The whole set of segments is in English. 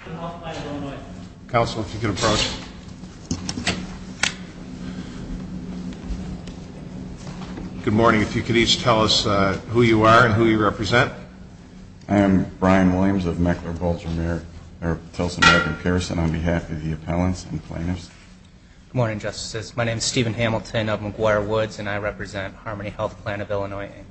Good morning. If you could each tell us who you are and who you represent. I am Brian Williams of Meckler-Bolger-Telson-Macon-Pearson on behalf of the appellants and plaintiffs. Good morning, Justices. My name is Stephen Hamilton of McGuire Woods and I represent Harmony Health Plan of Illinois, Inc.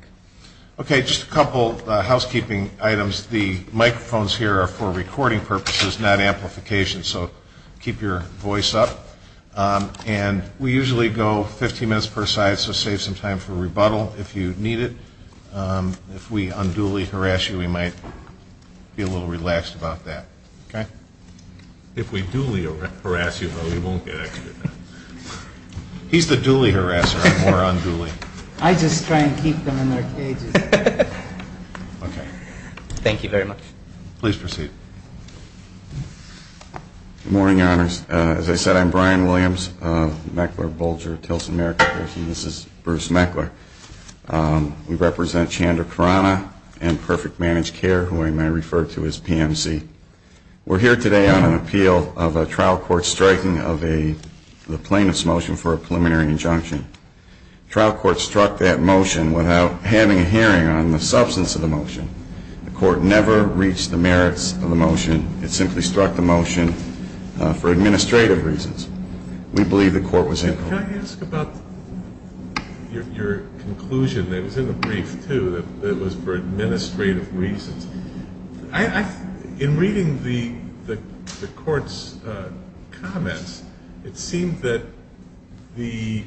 Okay, just a couple housekeeping items. The microphones here are for recording purposes, not amplification, so keep your voice up. And we usually go 15 minutes per side, so save some time for rebuttal if you need it. If we unduly harass you, we might be a little relaxed about that. Okay? If we duly harass you, though, we won't get extra time. He's the duly harasser, I'm more unduly. I just try and keep them in their cages. Okay. Thank you very much. Please proceed. Good morning, Your Honors. As I said, I'm Brian Williams of Meckler-Bolger-Telson-Macon-Pearson. This is Bruce Meckler. We represent Chandra Khurana and Perfect Managed Care, who I may refer to as PMC. We're here today on an appeal of a trial court striking of a plaintiff's motion for a preliminary injunction. The trial court struck that motion without having a hearing on the substance of the motion. The court never reached the merits of the motion. It simply struck the motion for administrative reasons. We believe the court was incompetent. Can I ask about your conclusion that was in the brief, too, that it was for administrative reasons? In reading the court's comments, it seemed that the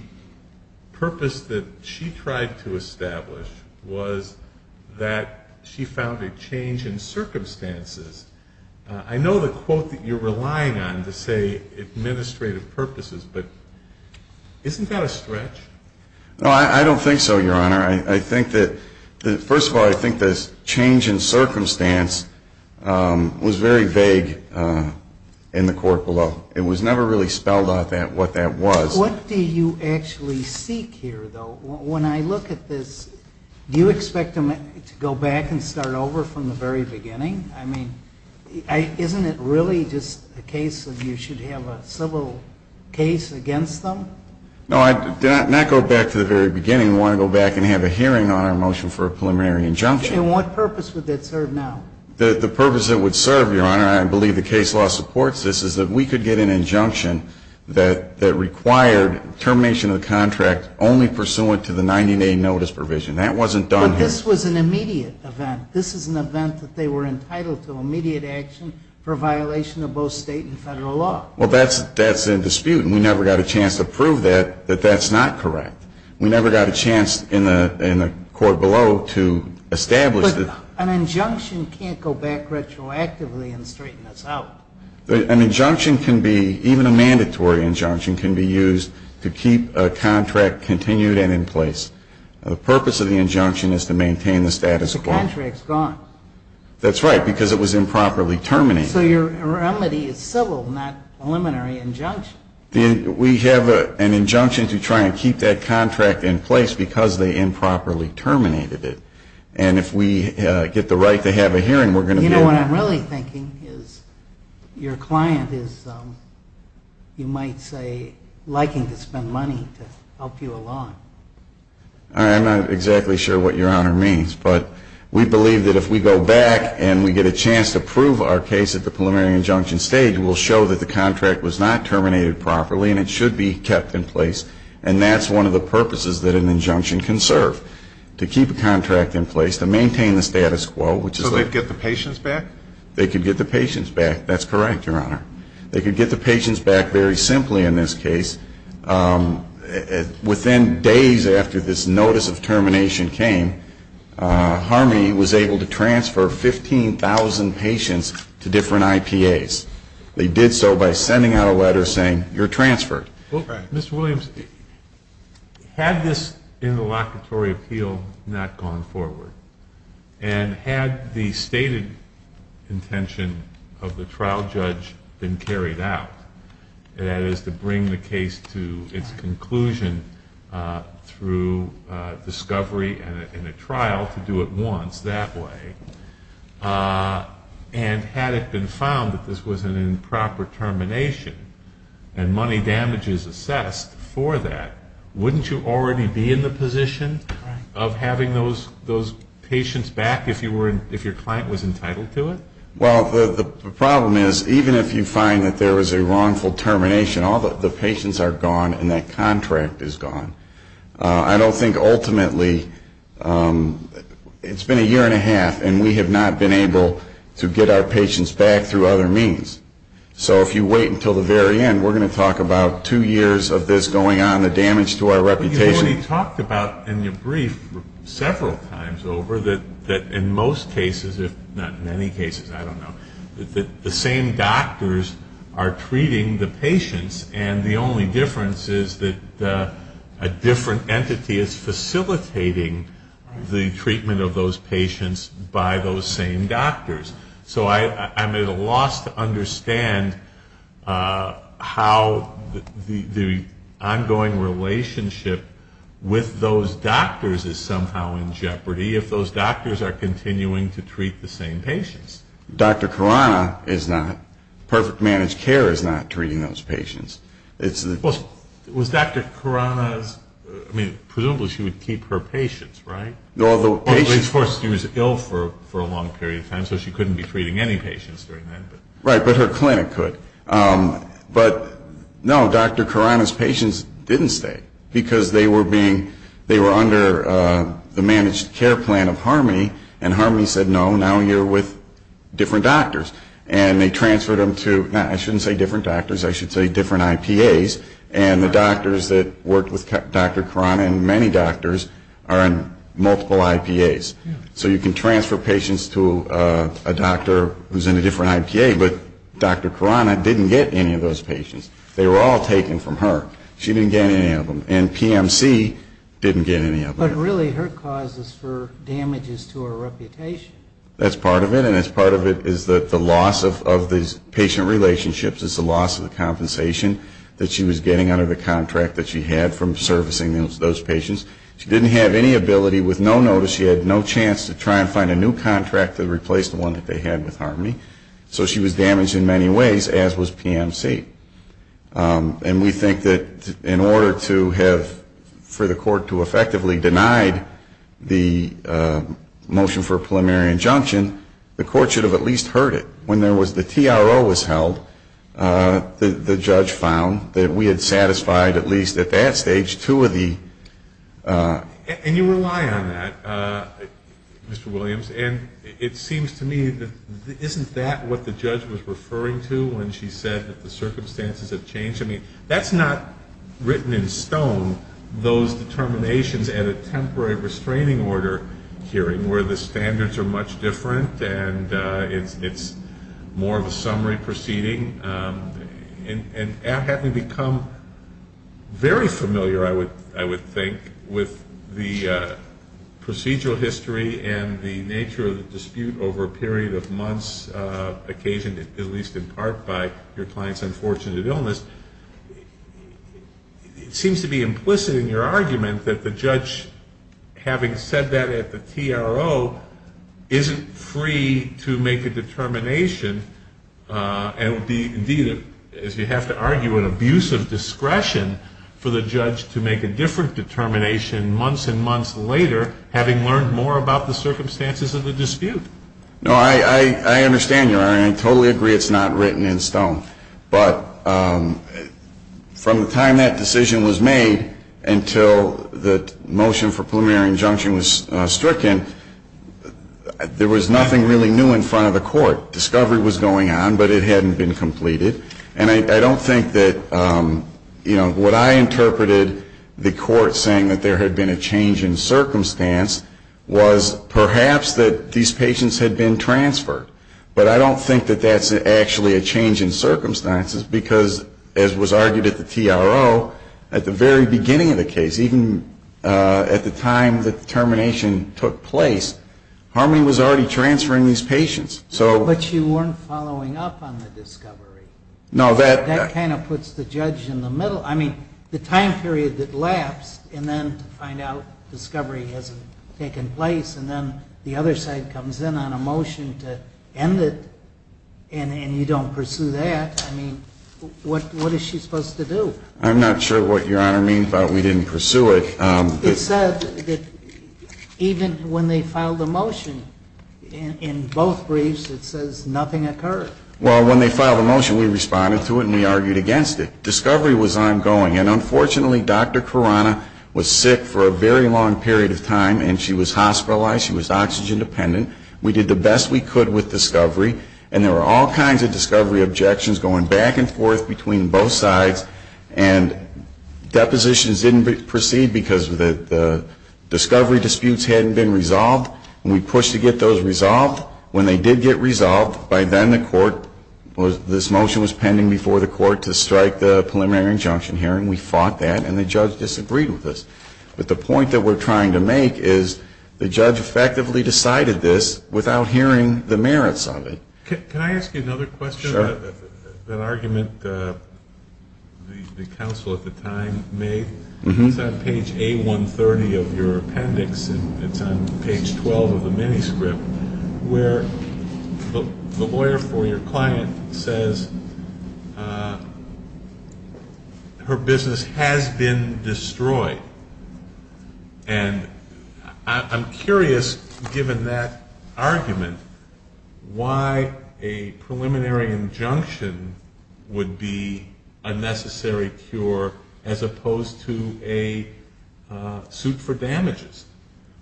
purpose that she tried to establish was that she found a change in circumstances. I know the quote that you're relying on to say administrative purposes, but isn't that a stretch? No, I don't think so, Your Honor. I think that, first of all, I think the change in circumstance was very vague in the court below. It was never really spelled out what that was. What do you actually seek here, though? When I look at this, do you expect them to go back and start over from the very beginning? I mean, isn't it really just a case of you should have a civil case against them? No, not go back to the very beginning. We want to go back and have a hearing on our motion for a preliminary injunction. And what purpose would that serve now? The purpose it would serve, Your Honor, and I believe the case law supports this, is that we could get an injunction that required termination of the contract only pursuant to the 90-day notice provision. That wasn't done here. But this was an immediate event. This is an event that they were entitled to immediate action for violation of both state and federal law. Well, that's in dispute, and we never got a chance to prove that, that that's not correct. We never got a chance in the court below to establish that. But an injunction can't go back retroactively and straighten us out. An injunction can be, even a mandatory injunction, can be used to keep a contract continued and in place. The purpose of the injunction is to maintain the status quo. The contract's gone. That's right, because it was improperly terminated. So your remedy is civil, not preliminary injunction. We have an injunction to try and keep that contract in place because they improperly terminated it. And if we get the right to have a hearing, we're going to be able to. So what I'm really thinking is your client is, you might say, liking to spend money to help you along. I'm not exactly sure what your Honor means. But we believe that if we go back and we get a chance to prove our case at the preliminary injunction stage, we'll show that the contract was not terminated properly and it should be kept in place. And that's one of the purposes that an injunction can serve, to keep a contract in place, to maintain the status quo. So they'd get the patients back? They could get the patients back. That's correct, Your Honor. They could get the patients back very simply in this case. Within days after this notice of termination came, Harmey was able to transfer 15,000 patients to different IPAs. They did so by sending out a letter saying, you're transferred. Mr. Williams, had this interlocutory appeal not gone forward, and had the stated intention of the trial judge been carried out, that is to bring the case to its conclusion through discovery and a trial to do it once that way, and had it been found that this was an improper termination and money damages assessed for that, wouldn't you already be in the position of having those patients back if your client was entitled to it? Well, the problem is, even if you find that there was a wrongful termination, all the patients are gone and that contract is gone. I don't think ultimately, it's been a year and a half, and we have not been able to get our patients back through other means. So if you wait until the very end, we're going to talk about two years of this going on, the damage to our reputation. But you already talked about in your brief several times over that in most cases, if not in many cases, I don't know, that the same doctors are treating the patients, and the only difference is that a different entity is facilitating the treatment of those patients by those same doctors. So I'm at a loss to understand how the ongoing relationship with those doctors is somehow in jeopardy if those doctors are continuing to treat the same patients. Dr. Khurana is not. Perfect Managed Care is not treating those patients. Well, was Dr. Khurana's, I mean, presumably she would keep her patients, right? Although, of course, she was ill for a long period of time, so she couldn't be treating any patients during that. Right, but her clinic could. But no, Dr. Khurana's patients didn't stay, because they were under the Managed Care Plan of Harmony, and Harmony said, no, now you're with different doctors. And they transferred them to, I shouldn't say different doctors, I should say different IPAs, and the doctors that worked with Dr. Khurana and many doctors are in multiple IPAs. So you can transfer patients to a doctor who's in a different IPA, but Dr. Khurana didn't get any of those patients. They were all taken from her. She didn't get any of them. And PMC didn't get any of them. But really her cause is for damages to her reputation. That's part of it. And that's part of it is that the loss of these patient relationships is the loss of the compensation that she was getting under the contract that she had from servicing those patients. She didn't have any ability with no notice. She had no chance to try and find a new contract to replace the one that they had with Harmony. So she was damaged in many ways, as was PMC. And we think that in order to have, for the court to effectively deny the motion for a preliminary injunction, the court should have at least heard it. When the TRO was held, the judge found that we had satisfied at least at that stage two of the. And you rely on that, Mr. Williams. And it seems to me that isn't that what the judge was referring to when she said that the circumstances have changed? I mean, that's not written in stone, those determinations at a temporary restraining order hearing where the standards are much different and it's more of a summary proceeding. And having become very familiar, I would think, with the procedural history and the nature of the dispute over a period of months, occasioned at least in part by your client's unfortunate illness, it seems to be implicit in your argument that the judge, having said that at the TRO, isn't free to make a determination and would be, indeed, as you have to argue, an abusive discretion for the judge to make a different determination months and months later, having learned more about the circumstances of the dispute. No, I understand, Your Honor, and I totally agree it's not written in stone. But from the time that decision was made until the motion for preliminary injunction was stricken, there was nothing really new in front of the court. Discovery was going on, but it hadn't been completed. And I don't think that, you know, what I interpreted the court saying that there had been a change in circumstance was perhaps that these patients had been transferred. But I don't think that that's actually a change in circumstances because, as was argued at the TRO, at the very beginning of the case, even at the time the determination took place, Harmony was already transferring these patients. But you weren't following up on the discovery. No. That kind of puts the judge in the middle. I mean, the time period that lapsed, and then to find out discovery hasn't taken place, and then the other side comes in on a motion to end it, and you don't pursue that. I mean, what is she supposed to do? I'm not sure what Your Honor means by we didn't pursue it. It said that even when they filed a motion in both briefs, it says nothing occurred. Well, when they filed a motion, we responded to it and we argued against it. Discovery was ongoing. And unfortunately, Dr. Carana was sick for a very long period of time, and she was hospitalized. She was oxygen dependent. We did the best we could with discovery. And there were all kinds of discovery objections going back and forth between both sides. And depositions didn't proceed because the discovery disputes hadn't been resolved. And we pushed to get those resolved. When they did get resolved, by then the court was, this motion was pending before the court to strike the preliminary injunction hearing. We fought that, and the judge disagreed with us. But the point that we're trying to make is the judge effectively decided this without hearing the merits of it. Can I ask you another question? Sure. An argument the counsel at the time made. It's on page A130 of your appendix, and it's on page 12 of the manuscript, where the lawyer for your client says her business has been destroyed. And I'm curious, given that argument, why a preliminary injunction would be a necessary cure as opposed to a suit for damages.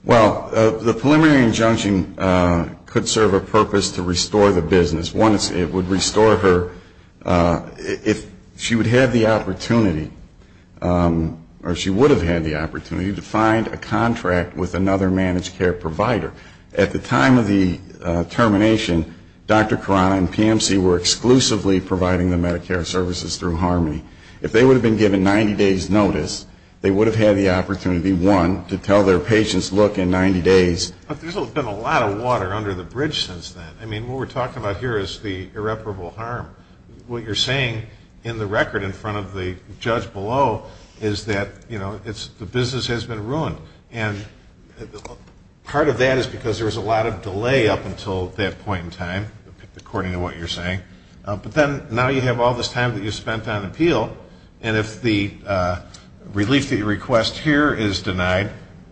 Well, the preliminary injunction could serve a purpose to restore the business. One, it would restore her, if she would have the opportunity, or she would have had the opportunity to find a contract with another managed care provider. At the time of the termination, Dr. Carano and PMC were exclusively providing the Medicare services through Harmony. If they would have been given 90 days' notice, they would have had the opportunity, one, to tell their patients, look, in 90 days. But there's been a lot of water under the bridge since then. I mean, what we're talking about here is the irreparable harm. What you're saying in the record in front of the judge below is that, you know, the business has been ruined. And part of that is because there was a lot of delay up until that point in time, according to what you're saying. But then now you have all this time that you spent on appeal, and if the relief that you request here is denied,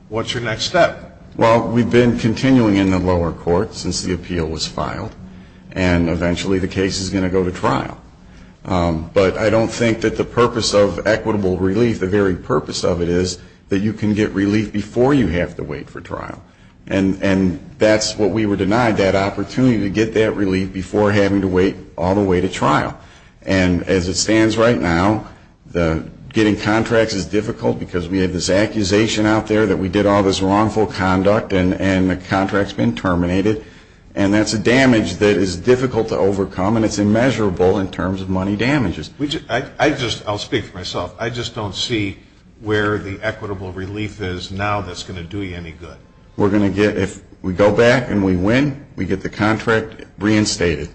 what's your next step? Well, we've been continuing in the lower court since the appeal was filed. And eventually the case is going to go to trial. But I don't think that the purpose of equitable relief, the very purpose of it, is that you can get relief before you have to wait for trial. And that's what we were denied, that opportunity to get that relief before having to wait all the way to trial. And as it stands right now, getting contracts is difficult because we have this accusation out there that we did all this wrongful conduct and the contract's been terminated. And that's a damage that is difficult to overcome, and it's immeasurable in terms of money damages. I'll speak for myself. I just don't see where the equitable relief is now that's going to do you any good. If we go back and we win, we get the contract reinstated.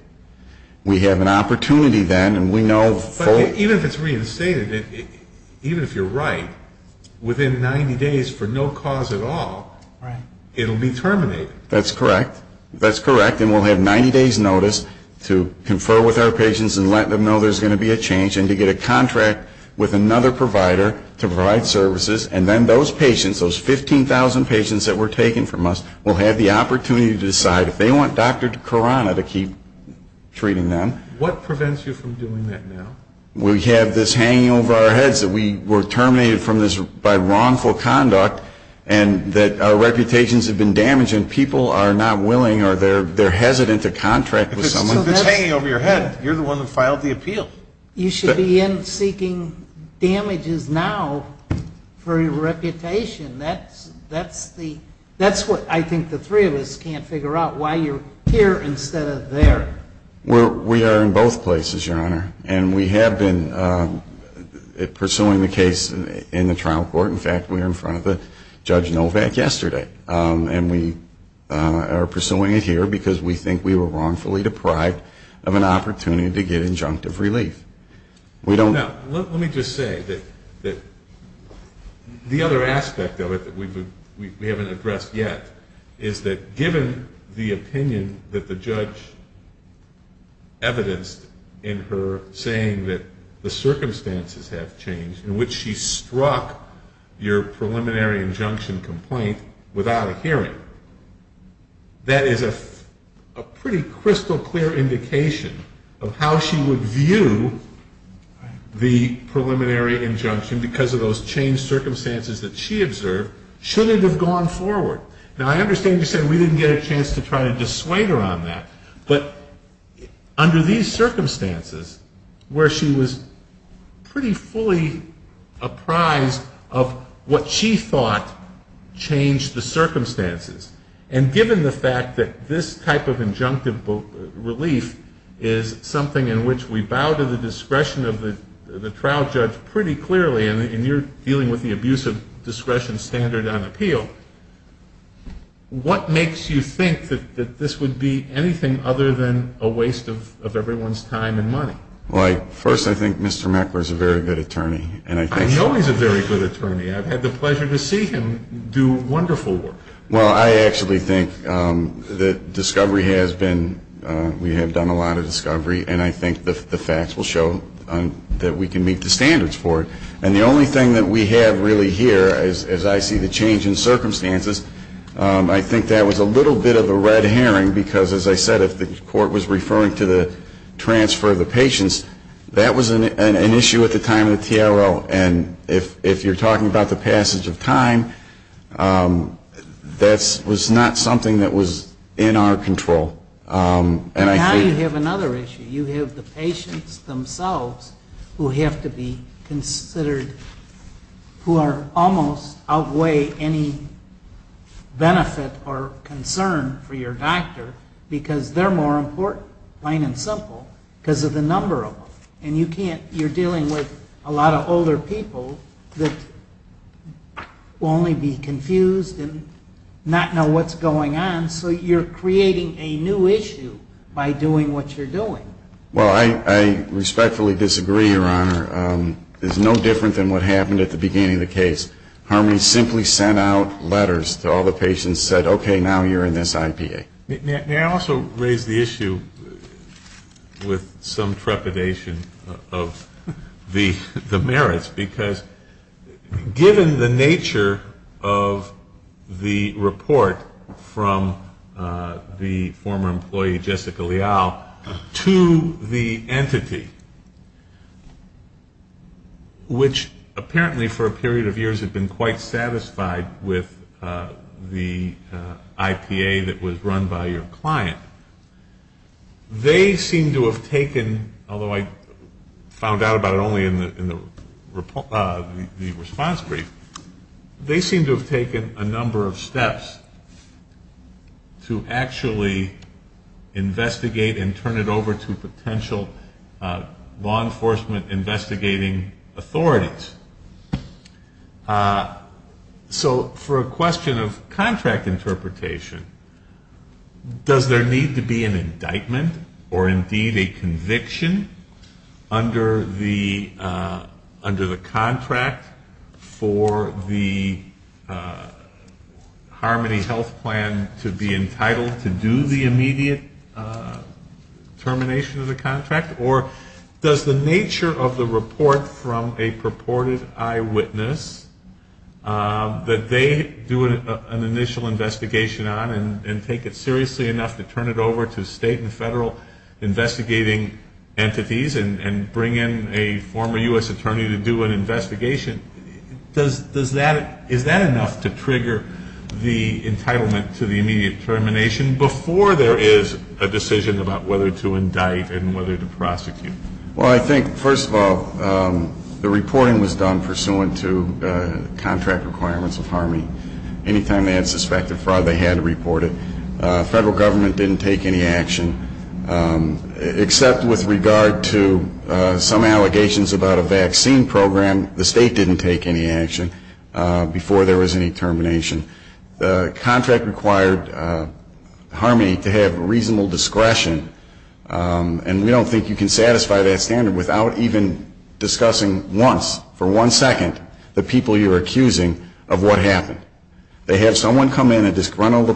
We have an opportunity then, and we know fully. Even if it's reinstated, even if you're right, within 90 days for no cause at all, it will be terminated. That's correct. That's correct, and we'll have 90 days' notice to confer with our patients and let them know there's going to be a change and to get a contract with another provider to provide services. And then those patients, those 15,000 patients that were taken from us, will have the opportunity to decide if they want Dr. Karana to keep treating them. What prevents you from doing that now? We have this hanging over our heads that we were terminated by wrongful conduct and that our reputations have been damaged and people are not willing or they're hesitant to contract with someone. If it's hanging over your head, you're the one that filed the appeal. You should be in seeking damages now for your reputation. That's what I think the three of us can't figure out, why you're here instead of there. We are in both places, Your Honor, and we have been pursuing the case in the trial court. In fact, we were in front of Judge Novak yesterday, and we are pursuing it here because we think we were wrongfully deprived of an opportunity to get injunctive relief. Now, let me just say that the other aspect of it that we haven't addressed yet is that given the opinion that the judge evidenced in her saying that the circumstances have changed in which she struck your preliminary injunction complaint without a hearing, that is a pretty crystal clear indication of how she would view the preliminary injunction because of those changed circumstances that she observed shouldn't have gone forward. Now, I understand you said we didn't get a chance to try to dissuade her on that, but under these circumstances where she was pretty fully apprised of what she thought changed the circumstances, and given the fact that this type of injunctive relief is something in which we bow to the discretion of the trial judge and you're dealing with the abuse of discretion standard on appeal, what makes you think that this would be anything other than a waste of everyone's time and money? Well, first, I think Mr. Meckler is a very good attorney. I know he's a very good attorney. I've had the pleasure to see him do wonderful work. Well, I actually think that discovery has been, we have done a lot of discovery, and I think the facts will show that we can meet the standards for it. And the only thing that we have really here, as I see the change in circumstances, I think that was a little bit of a red herring because, as I said, if the court was referring to the transfer of the patients, that was an issue at the time of the TRL. And if you're talking about the passage of time, that was not something that was in our control. And now you have another issue. You have the patients themselves who have to be considered, who almost outweigh any benefit or concern for your doctor because they're more important, plain and simple, because of the number of them. And you're dealing with a lot of older people that will only be confused and not know what's going on, and so you're creating a new issue by doing what you're doing. Well, I respectfully disagree, Your Honor. It's no different than what happened at the beginning of the case. Harmony simply sent out letters to all the patients, said, okay, now you're in this IPA. May I also raise the issue with some trepidation of the merits? Because given the nature of the report from the former employee, Jessica Leal, to the entity, which apparently for a period of years had been quite satisfied with the IPA that was run by your client, they seem to have taken, although I found out about it only in the response brief, they seem to have taken a number of steps to actually investigate and turn it over to potential law enforcement investigating authorities. So for a question of contract interpretation, does there need to be an indictment or indeed a conviction under the contract for the Harmony Health Plan to be entitled to do the immediate termination of the contract? Or does the nature of the report from a purported eyewitness that they do an initial investigation on and take it seriously enough to turn it over to state and federal investigating entities and bring in a former U.S. attorney to do an investigation, is that enough to trigger the entitlement to the immediate termination before there is a decision about whether to indict and whether to prosecute? Well, I think, first of all, the reporting was done pursuant to contract requirements of Harmony. Anytime they had suspected fraud, they had to report it. Federal government didn't take any action, except with regard to some allegations about a vaccine program. The state didn't take any action before there was any termination. The contract required Harmony to have reasonable discretion, and we don't think you can satisfy that standard without even discussing once, for one second, the people you're accusing of what happened. They have someone come in, a disgruntled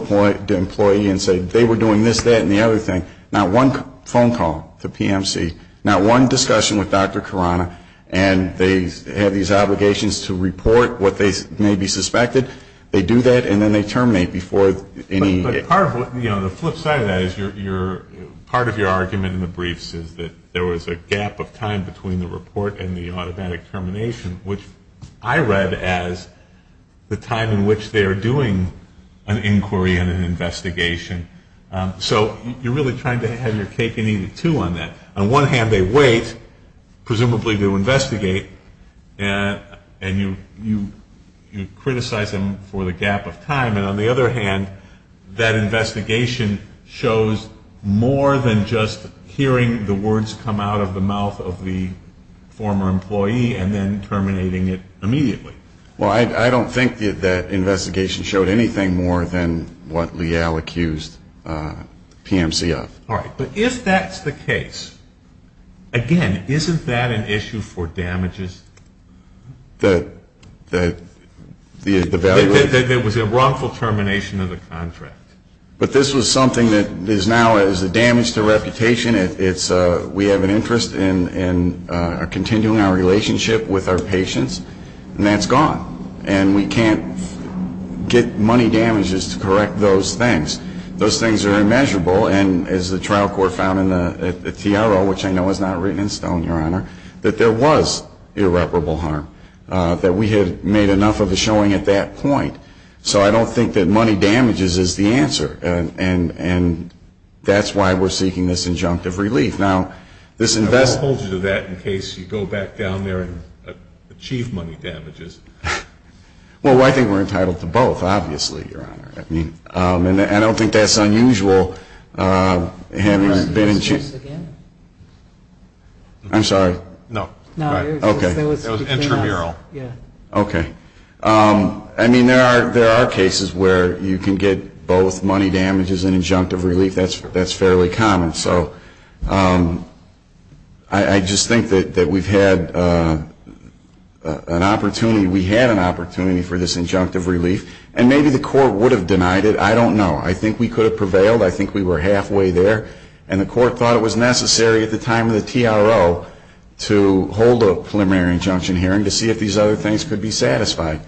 employee, and say they were doing this, that, and the other thing. Not one phone call to PMC, not one discussion with Dr. Khurana, and they have these obligations to report what they may be suspected. They do that, and then they terminate before any ---- But part of what, you know, the flip side of that is part of your argument in the briefs is that there was a gap of time between the report and the automatic termination, which I read as the time in which they are doing an inquiry and an investigation. So you're really trying to have your cake and eat it, too, on that. On one hand, they wait, presumably to investigate, and you criticize them for the gap of time, and on the other hand, that investigation shows more than just hearing the words come out of the mouth of the former employee and then terminating it immediately. Well, I don't think that investigation showed anything more than what Leal accused PMC of. All right, but if that's the case, again, isn't that an issue for damages? That there was a wrongful termination of the contract. But this was something that is now a damage to reputation. We have an interest in continuing our relationship with our patients, and that's gone, and we can't get money damages to correct those things. Those things are immeasurable, and as the trial court found in the TRO, which I know is not written in stone, Your Honor, that there was irreparable harm, that we had made enough of a showing at that point. So I don't think that money damages is the answer, and that's why we're seeking this injunctive relief. Now, this investment — I won't hold you to that in case you go back down there and achieve money damages. Well, I think we're entitled to both, obviously, Your Honor. And I don't think that's unusual, having been in — Your Honor, can you say that again? I'm sorry? No. Okay. It was intramural. Okay. I mean, there are cases where you can get both money damages and injunctive relief. That's fairly common. So I just think that we've had an opportunity — we had an opportunity for this injunctive relief, and maybe the court would have denied it. I don't know. I think we could have prevailed. I think we were halfway there, and the court thought it was necessary at the time of the TRO to hold a preliminary injunction hearing to see if these other things could be satisfied.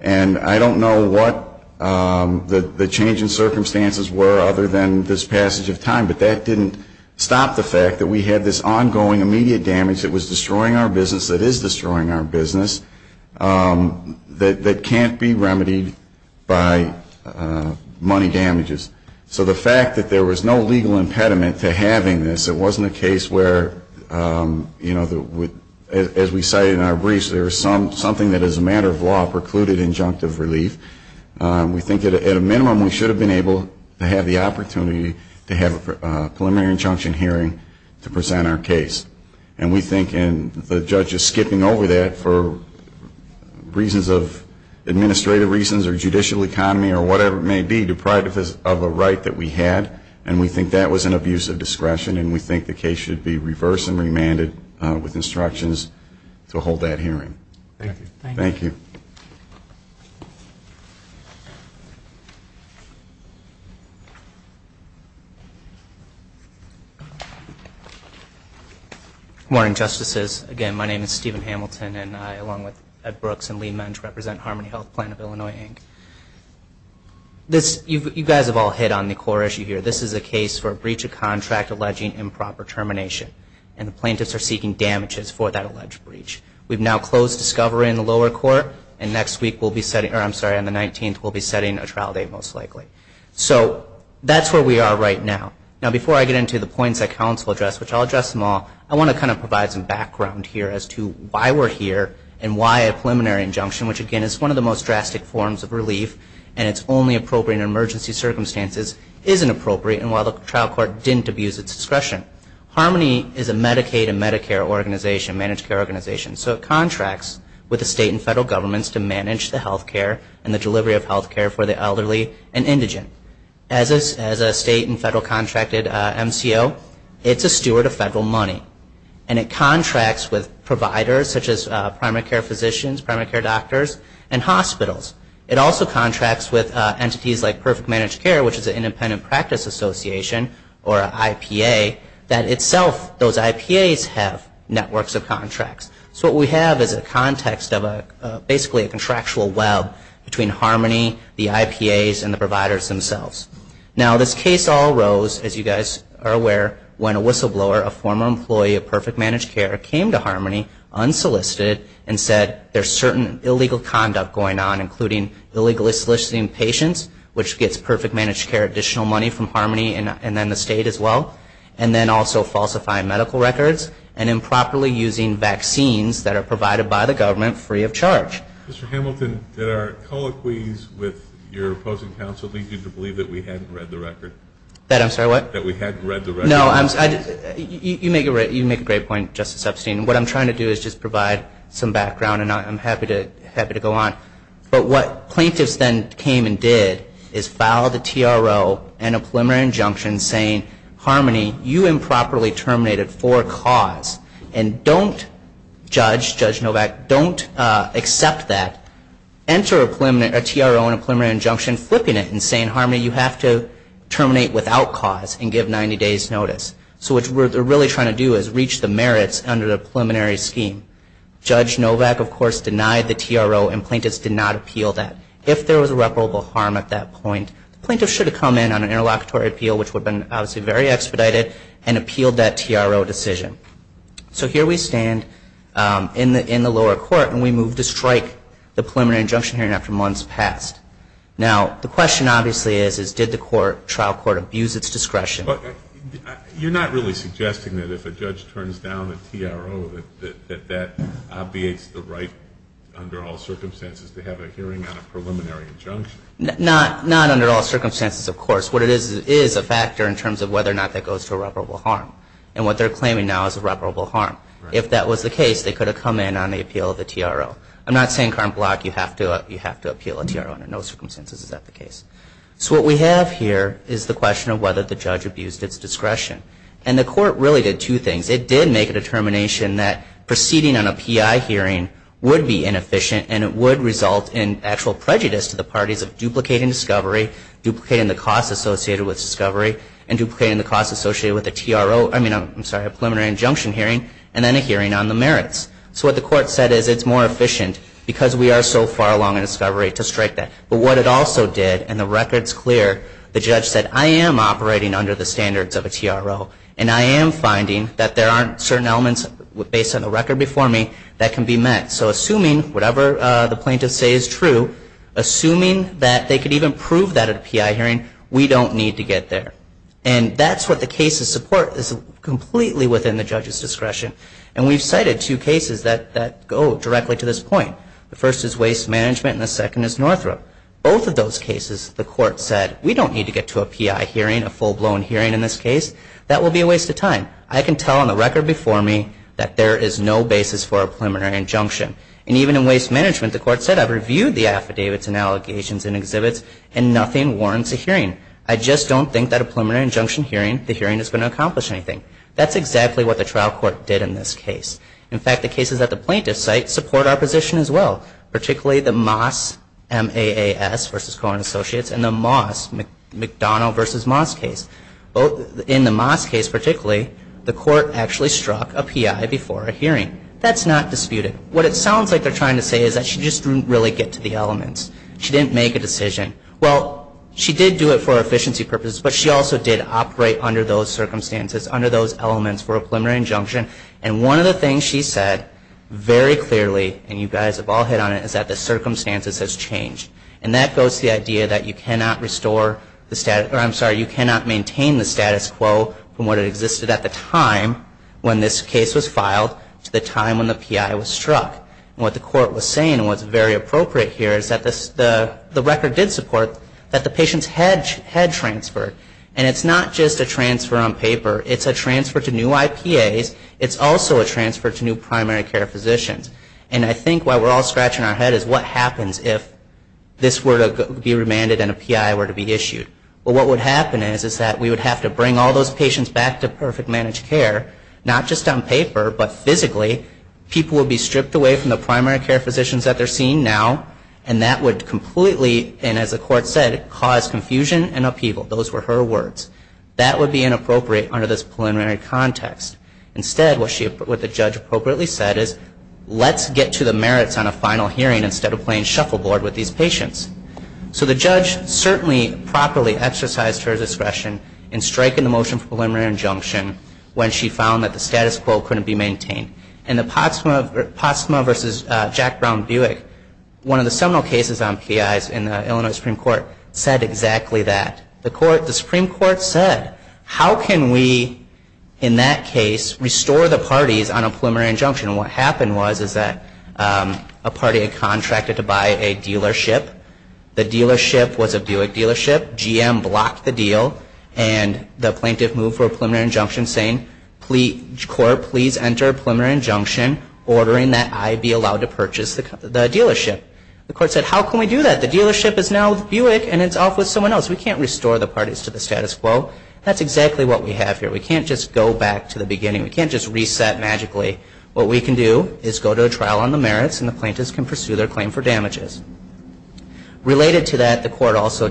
And I don't know what the changing circumstances were other than this passage of time, but that didn't stop the fact that we had this ongoing immediate damage that was destroying our business, that is destroying our business, that can't be remedied by money damages. So the fact that there was no legal impediment to having this, it wasn't a case where, you know, as we cited in our briefs, there was something that as a matter of law precluded injunctive relief. We think at a minimum we should have been able to have the opportunity to have a preliminary injunction hearing to present our case. And we think, and the judge is skipping over that for reasons of administrative reasons or judicial economy or whatever it may be, deprived of a right that we had, and we think that was an abuse of discretion, and we think the case should be reversed and remanded with instructions to hold that hearing. Thank you. Thank you. Good morning, Justices. Again, my name is Stephen Hamilton, and I, along with Ed Brooks and Lee Mensch, represent Harmony Health Plan of Illinois, Inc. You guys have all hit on the core issue here. This is a case for a breach of contract alleging improper termination, and the plaintiffs are seeking damages for that alleged breach. We've now closed discovery in the lower court, and next week we'll be setting, or I'm sorry, on the 19th we'll be setting a trial date most likely. So that's where we are right now. Now before I get into the points that counsel addressed, which I'll address them all, I want to kind of provide some background here as to why we're here and why a preliminary injunction, which, again, is one of the most drastic forms of relief and it's only appropriate in emergency circumstances, isn't appropriate, and why the trial court didn't abuse its discretion. Harmony is a Medicaid and Medicare organization, managed care organization, so it contracts with the state and federal governments to manage the health care and the delivery of health care for the elderly and indigent. As a state and federal contracted MCO, it's a steward of federal money, and it contracts with providers, such as primary care physicians, primary care doctors, and hospitals. It also contracts with entities like Perfect Managed Care, which is an independent practice association, or an IPA, that itself, those IPAs have networks of contracts. So what we have is a context of basically a contractual web between Harmony, the IPAs, and the providers themselves. Now, this case all arose, as you guys are aware, when a whistleblower, a former employee of Perfect Managed Care, came to Harmony unsolicited and said there's certain illegal conduct going on, including illegally soliciting patients, which gets Perfect Managed Care additional money from Harmony and then the state as well, and then also falsifying medical records and improperly using vaccines that are provided by the government free of charge. Mr. Hamilton, did our colloquies with your opposing counsel lead you to believe that we hadn't read the record? That I'm sorry, what? That we hadn't read the record. No, you make a great point, Justice Epstein. What I'm trying to do is just provide some background, and I'm happy to go on. But what plaintiffs then came and did is file the TRO and a preliminary injunction saying, Harmony, you improperly terminated for a cause, and don't, Judge Novak, don't accept that. Enter a TRO and a preliminary injunction flipping it and saying, Harmony, you have to terminate without cause and give 90 days' notice. So what they're really trying to do is reach the merits under the preliminary scheme. Judge Novak, of course, denied the TRO, and plaintiffs did not appeal that. If there was irreparable harm at that point, the plaintiffs should have come in on an interlocutory appeal, which would have been obviously very expedited, and appealed that TRO decision. So here we stand in the lower court, and we move to strike the preliminary injunction hearing after months passed. Now, the question obviously is, did the trial court abuse its discretion? You're not really suggesting that if a judge turns down a TRO, that that obviates the right under all circumstances to have a hearing on a preliminary injunction? Not under all circumstances, of course. What it is is a factor in terms of whether or not that goes to irreparable harm. And what they're claiming now is irreparable harm. If that was the case, they could have come in on the appeal of the TRO. I'm not saying, Karn Block, you have to appeal a TRO under no circumstances. Is that the case? So what we have here is the question of whether the judge abused its discretion. And the court really did two things. It did make a determination that proceeding on a PI hearing would be inefficient, and it would result in actual prejudice to the parties of duplicating discovery, duplicating the costs associated with discovery, and duplicating the costs associated with a TRO, I mean, I'm sorry, a preliminary injunction hearing, and then a hearing on the merits. So what the court said is it's more efficient because we are so far along in discovery to strike that. But what it also did, and the record's clear, the judge said, I am operating under the standards of a TRO, and I am finding that there aren't certain elements based on the record before me that can be met. So assuming whatever the plaintiffs say is true, assuming that they could even prove that at a PI hearing, we don't need to get there. And that's what the case's support is completely within the judge's discretion. And we've cited two cases that go directly to this point. The first is waste management, and the second is Northrop. Both of those cases, the court said, we don't need to get to a PI hearing, a full-blown hearing in this case. That will be a waste of time. I can tell on the record before me that there is no basis for a preliminary injunction. And even in waste management, the court said, I've reviewed the affidavits and allegations and exhibits, and nothing warrants a hearing. I just don't think that a preliminary injunction hearing, the hearing is going to accomplish anything. That's exactly what the trial court did in this case. In fact, the cases at the plaintiff's site support our position as well, particularly the Moss, M-A-A-S, versus Cohen Associates, and the Moss, McDonnell versus Moss case. In the Moss case particularly, the court actually struck a PI before a hearing. That's not disputed. What it sounds like they're trying to say is that she just didn't really get to the elements. She didn't make a decision. Well, she did do it for efficiency purposes, but she also did operate under those circumstances, under those elements for a preliminary injunction. And one of the things she said very clearly, and you guys have all hit on it, is that the circumstances has changed. And that goes to the idea that you cannot restore the status or, I'm sorry, you cannot maintain the status quo from what existed at the time when this case was filed to the time when the PI was struck. And what the court was saying, and what's very appropriate here, is that the record did support that the patients had transferred. And it's not just a transfer on paper. It's a transfer to new IPAs. It's also a transfer to new primary care physicians. And I think what we're all scratching our head is what happens if this were to be remanded and a PI were to be issued. Well, what would happen is that we would have to bring all those patients back to perfect managed care, not just on paper, but physically people would be stripped away from the primary care physicians that they're seeing now. And that would completely, and as the court said, cause confusion and upheaval. Those were her words. That would be inappropriate under this preliminary context. Instead, what the judge appropriately said is, let's get to the merits on a final hearing instead of playing shuffleboard with these patients. So the judge certainly properly exercised her discretion in striking the motion for preliminary injunction when she found that the status quo couldn't be maintained. And the Potsdamer versus Jack Brown-Buick, one of the seminal cases on PIs in the Illinois Supreme Court, said exactly that. The Supreme Court said, how can we, in that case, restore the parties on a preliminary injunction? And what happened was that a party had contracted to buy a dealership. The dealership was a Buick dealership. GM blocked the deal. And the plaintiff moved for a preliminary injunction saying, court, please enter a preliminary injunction ordering that I be allowed to purchase the dealership. The court said, how can we do that? The dealership is now Buick, and it's off with someone else. We can't restore the parties to the status quo. That's exactly what we have here. We can't just go back to the beginning. We can't just reset magically. What we can do is go to a trial on the merits, and the plaintiffs can pursue their claim for damages. Related to that, the court also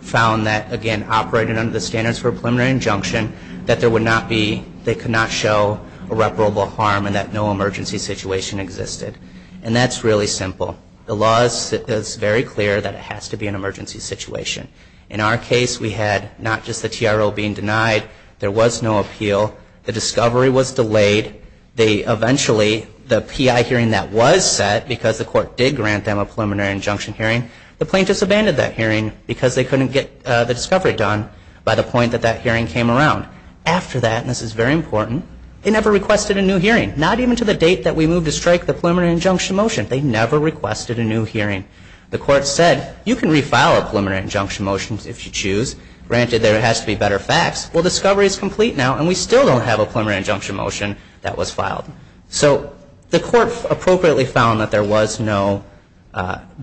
found that, again, operating under the standards for a preliminary injunction, that they could not show irreparable harm and that no emergency situation existed. And that's really simple. The law is very clear that it has to be an emergency situation. In our case, we had not just the TRO being denied. There was no appeal. The discovery was delayed. Eventually, the PI hearing that was set, because the court did grant them a preliminary injunction hearing, the plaintiffs abandoned that hearing because they couldn't get the discovery done by the point that that hearing came around. After that, and this is very important, they never requested a new hearing, not even to the date that we moved to strike the preliminary injunction motion. They never requested a new hearing. The court said, you can refile a preliminary injunction motion if you choose. Granted, there has to be better facts. injunction motion that was filed. So the court appropriately found that there was no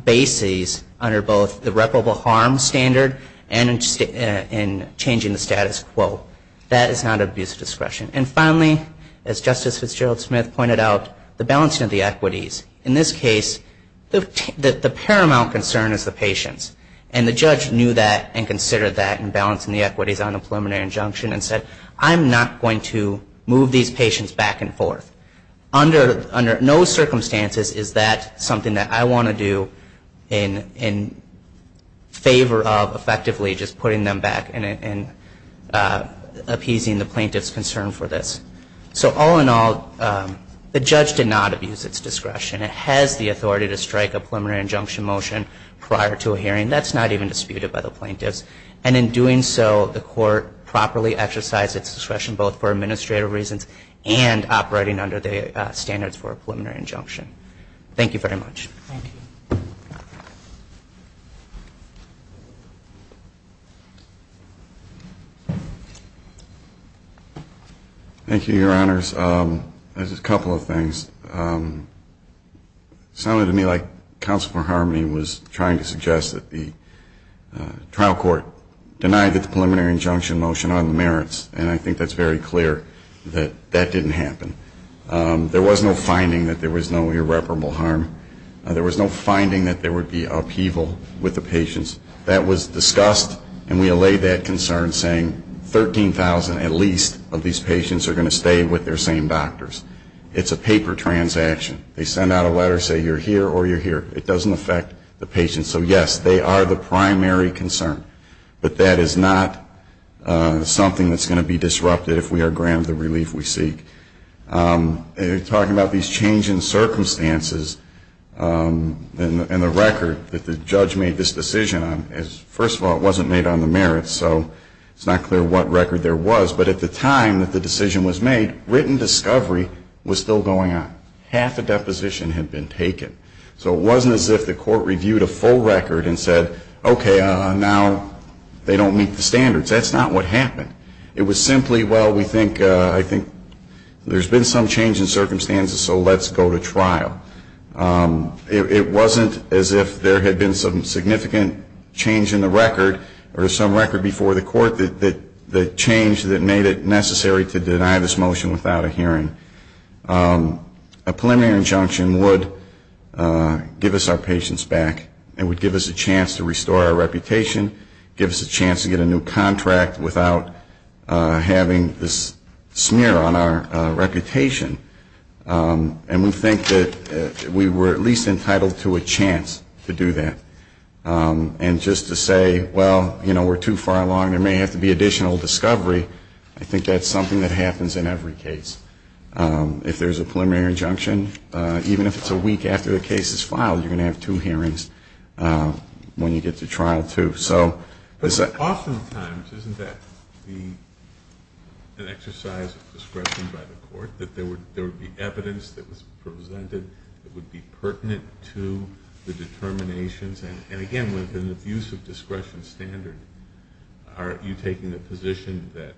basis under both the irreparable harm standard and in changing the status quo. That is not abuse of discretion. And finally, as Justice Fitzgerald-Smith pointed out, the balancing of the equities. In this case, the paramount concern is the patients. And the judge knew that and considered that in balancing the equities on the preliminary injunction and said, I'm not going to move these patients back and forth. Under no circumstances is that something that I want to do in favor of effectively just putting them back and appeasing the plaintiff's concern for this. So all in all, the judge did not abuse its discretion. It has the authority to strike a preliminary injunction motion prior to a hearing. That's not even disputed by the plaintiffs. And in doing so, the court properly exercised its discretion both for balancing the equities and operating under the standards for a preliminary injunction. Thank you very much. Thank you. Thank you, Your Honors. There's a couple of things. It sounded to me like Counsel for Harmony was trying to suggest that the trial court denied that the preliminary injunction motion on the merits. And I think that's very clear that that didn't happen. There was no finding that there was no irreparable harm. There was no finding that there would be upheaval with the patients. That was discussed and we allayed that concern saying 13,000 at least of these patients are going to stay with their same doctors. It's a paper transaction. They send out a letter saying you're here or you're here. It doesn't affect the patients. So, yes, they are the primary concern. But that is not something that's going to be disrupted if we are granted the relief we seek. You're talking about these changing circumstances and the record that the judge made this decision on. First of all, it wasn't made on the merits. So it's not clear what record there was. But at the time that the decision was made, written discovery was still going on. Half the deposition had been taken. So it wasn't as if the court reviewed a full record and said, okay, now they don't meet the standards. That's not what happened. It was simply, well, we think, I think there's been some change in circumstances so let's go to trial. It wasn't as if there had been some significant change in the record or some record before the court that changed that made it necessary to deny this motion without a hearing. A preliminary injunction would give us our patience back and would give us a chance to restore our reputation, give us a chance to get a new contract without having this smear on our reputation. And we think that we were at least entitled to a chance to do that. And just to say, well, you know, we're too far along. There may have to be additional discovery. I think that's something that happens in every case. If there's a preliminary injunction, even if it's a week after the case is filed, you're going to have two hearings when you get to trial, too. But oftentimes, isn't that an exercise of discretion by the court, that there would be evidence that was presented that would be pertinent to the determinations? And, again, within the use of discretion standard, are you taking the position that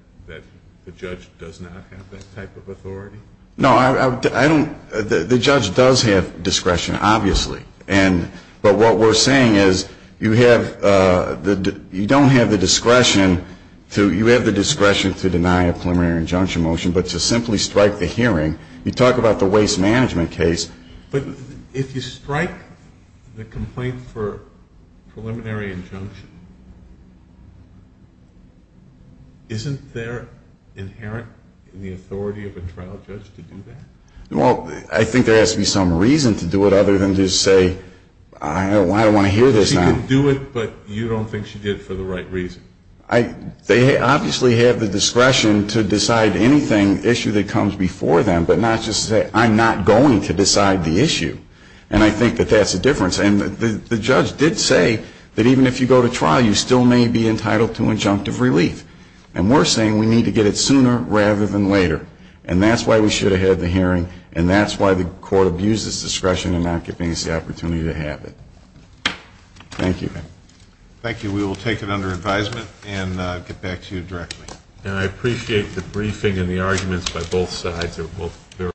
the judge does not have that type of authority? No, I don't. The judge does have discretion, obviously. But what we're saying is you don't have the discretion to deny a preliminary injunction motion, but to simply strike the hearing. You talk about the waste management case. But if you strike the complaint for preliminary injunction, isn't there inherent in the authority of a trial judge to do that? Well, I think there has to be some reason to do it, other than to say, I don't want to hear this now. She can do it, but you don't think she did it for the right reason. They obviously have the discretion to decide anything, issue that comes before them, but not just say, I'm not going to decide the issue. And I think that that's the difference. And the judge did say that even if you go to trial, you still may be entitled to injunctive relief. And we're saying we need to get it sooner rather than later. And that's why we should have had the hearing, and that's why the court abused its discretion in not giving us the opportunity to have it. Thank you. Thank you. We will take it under advisement and get back to you directly. And I appreciate the briefing and the arguments by both sides.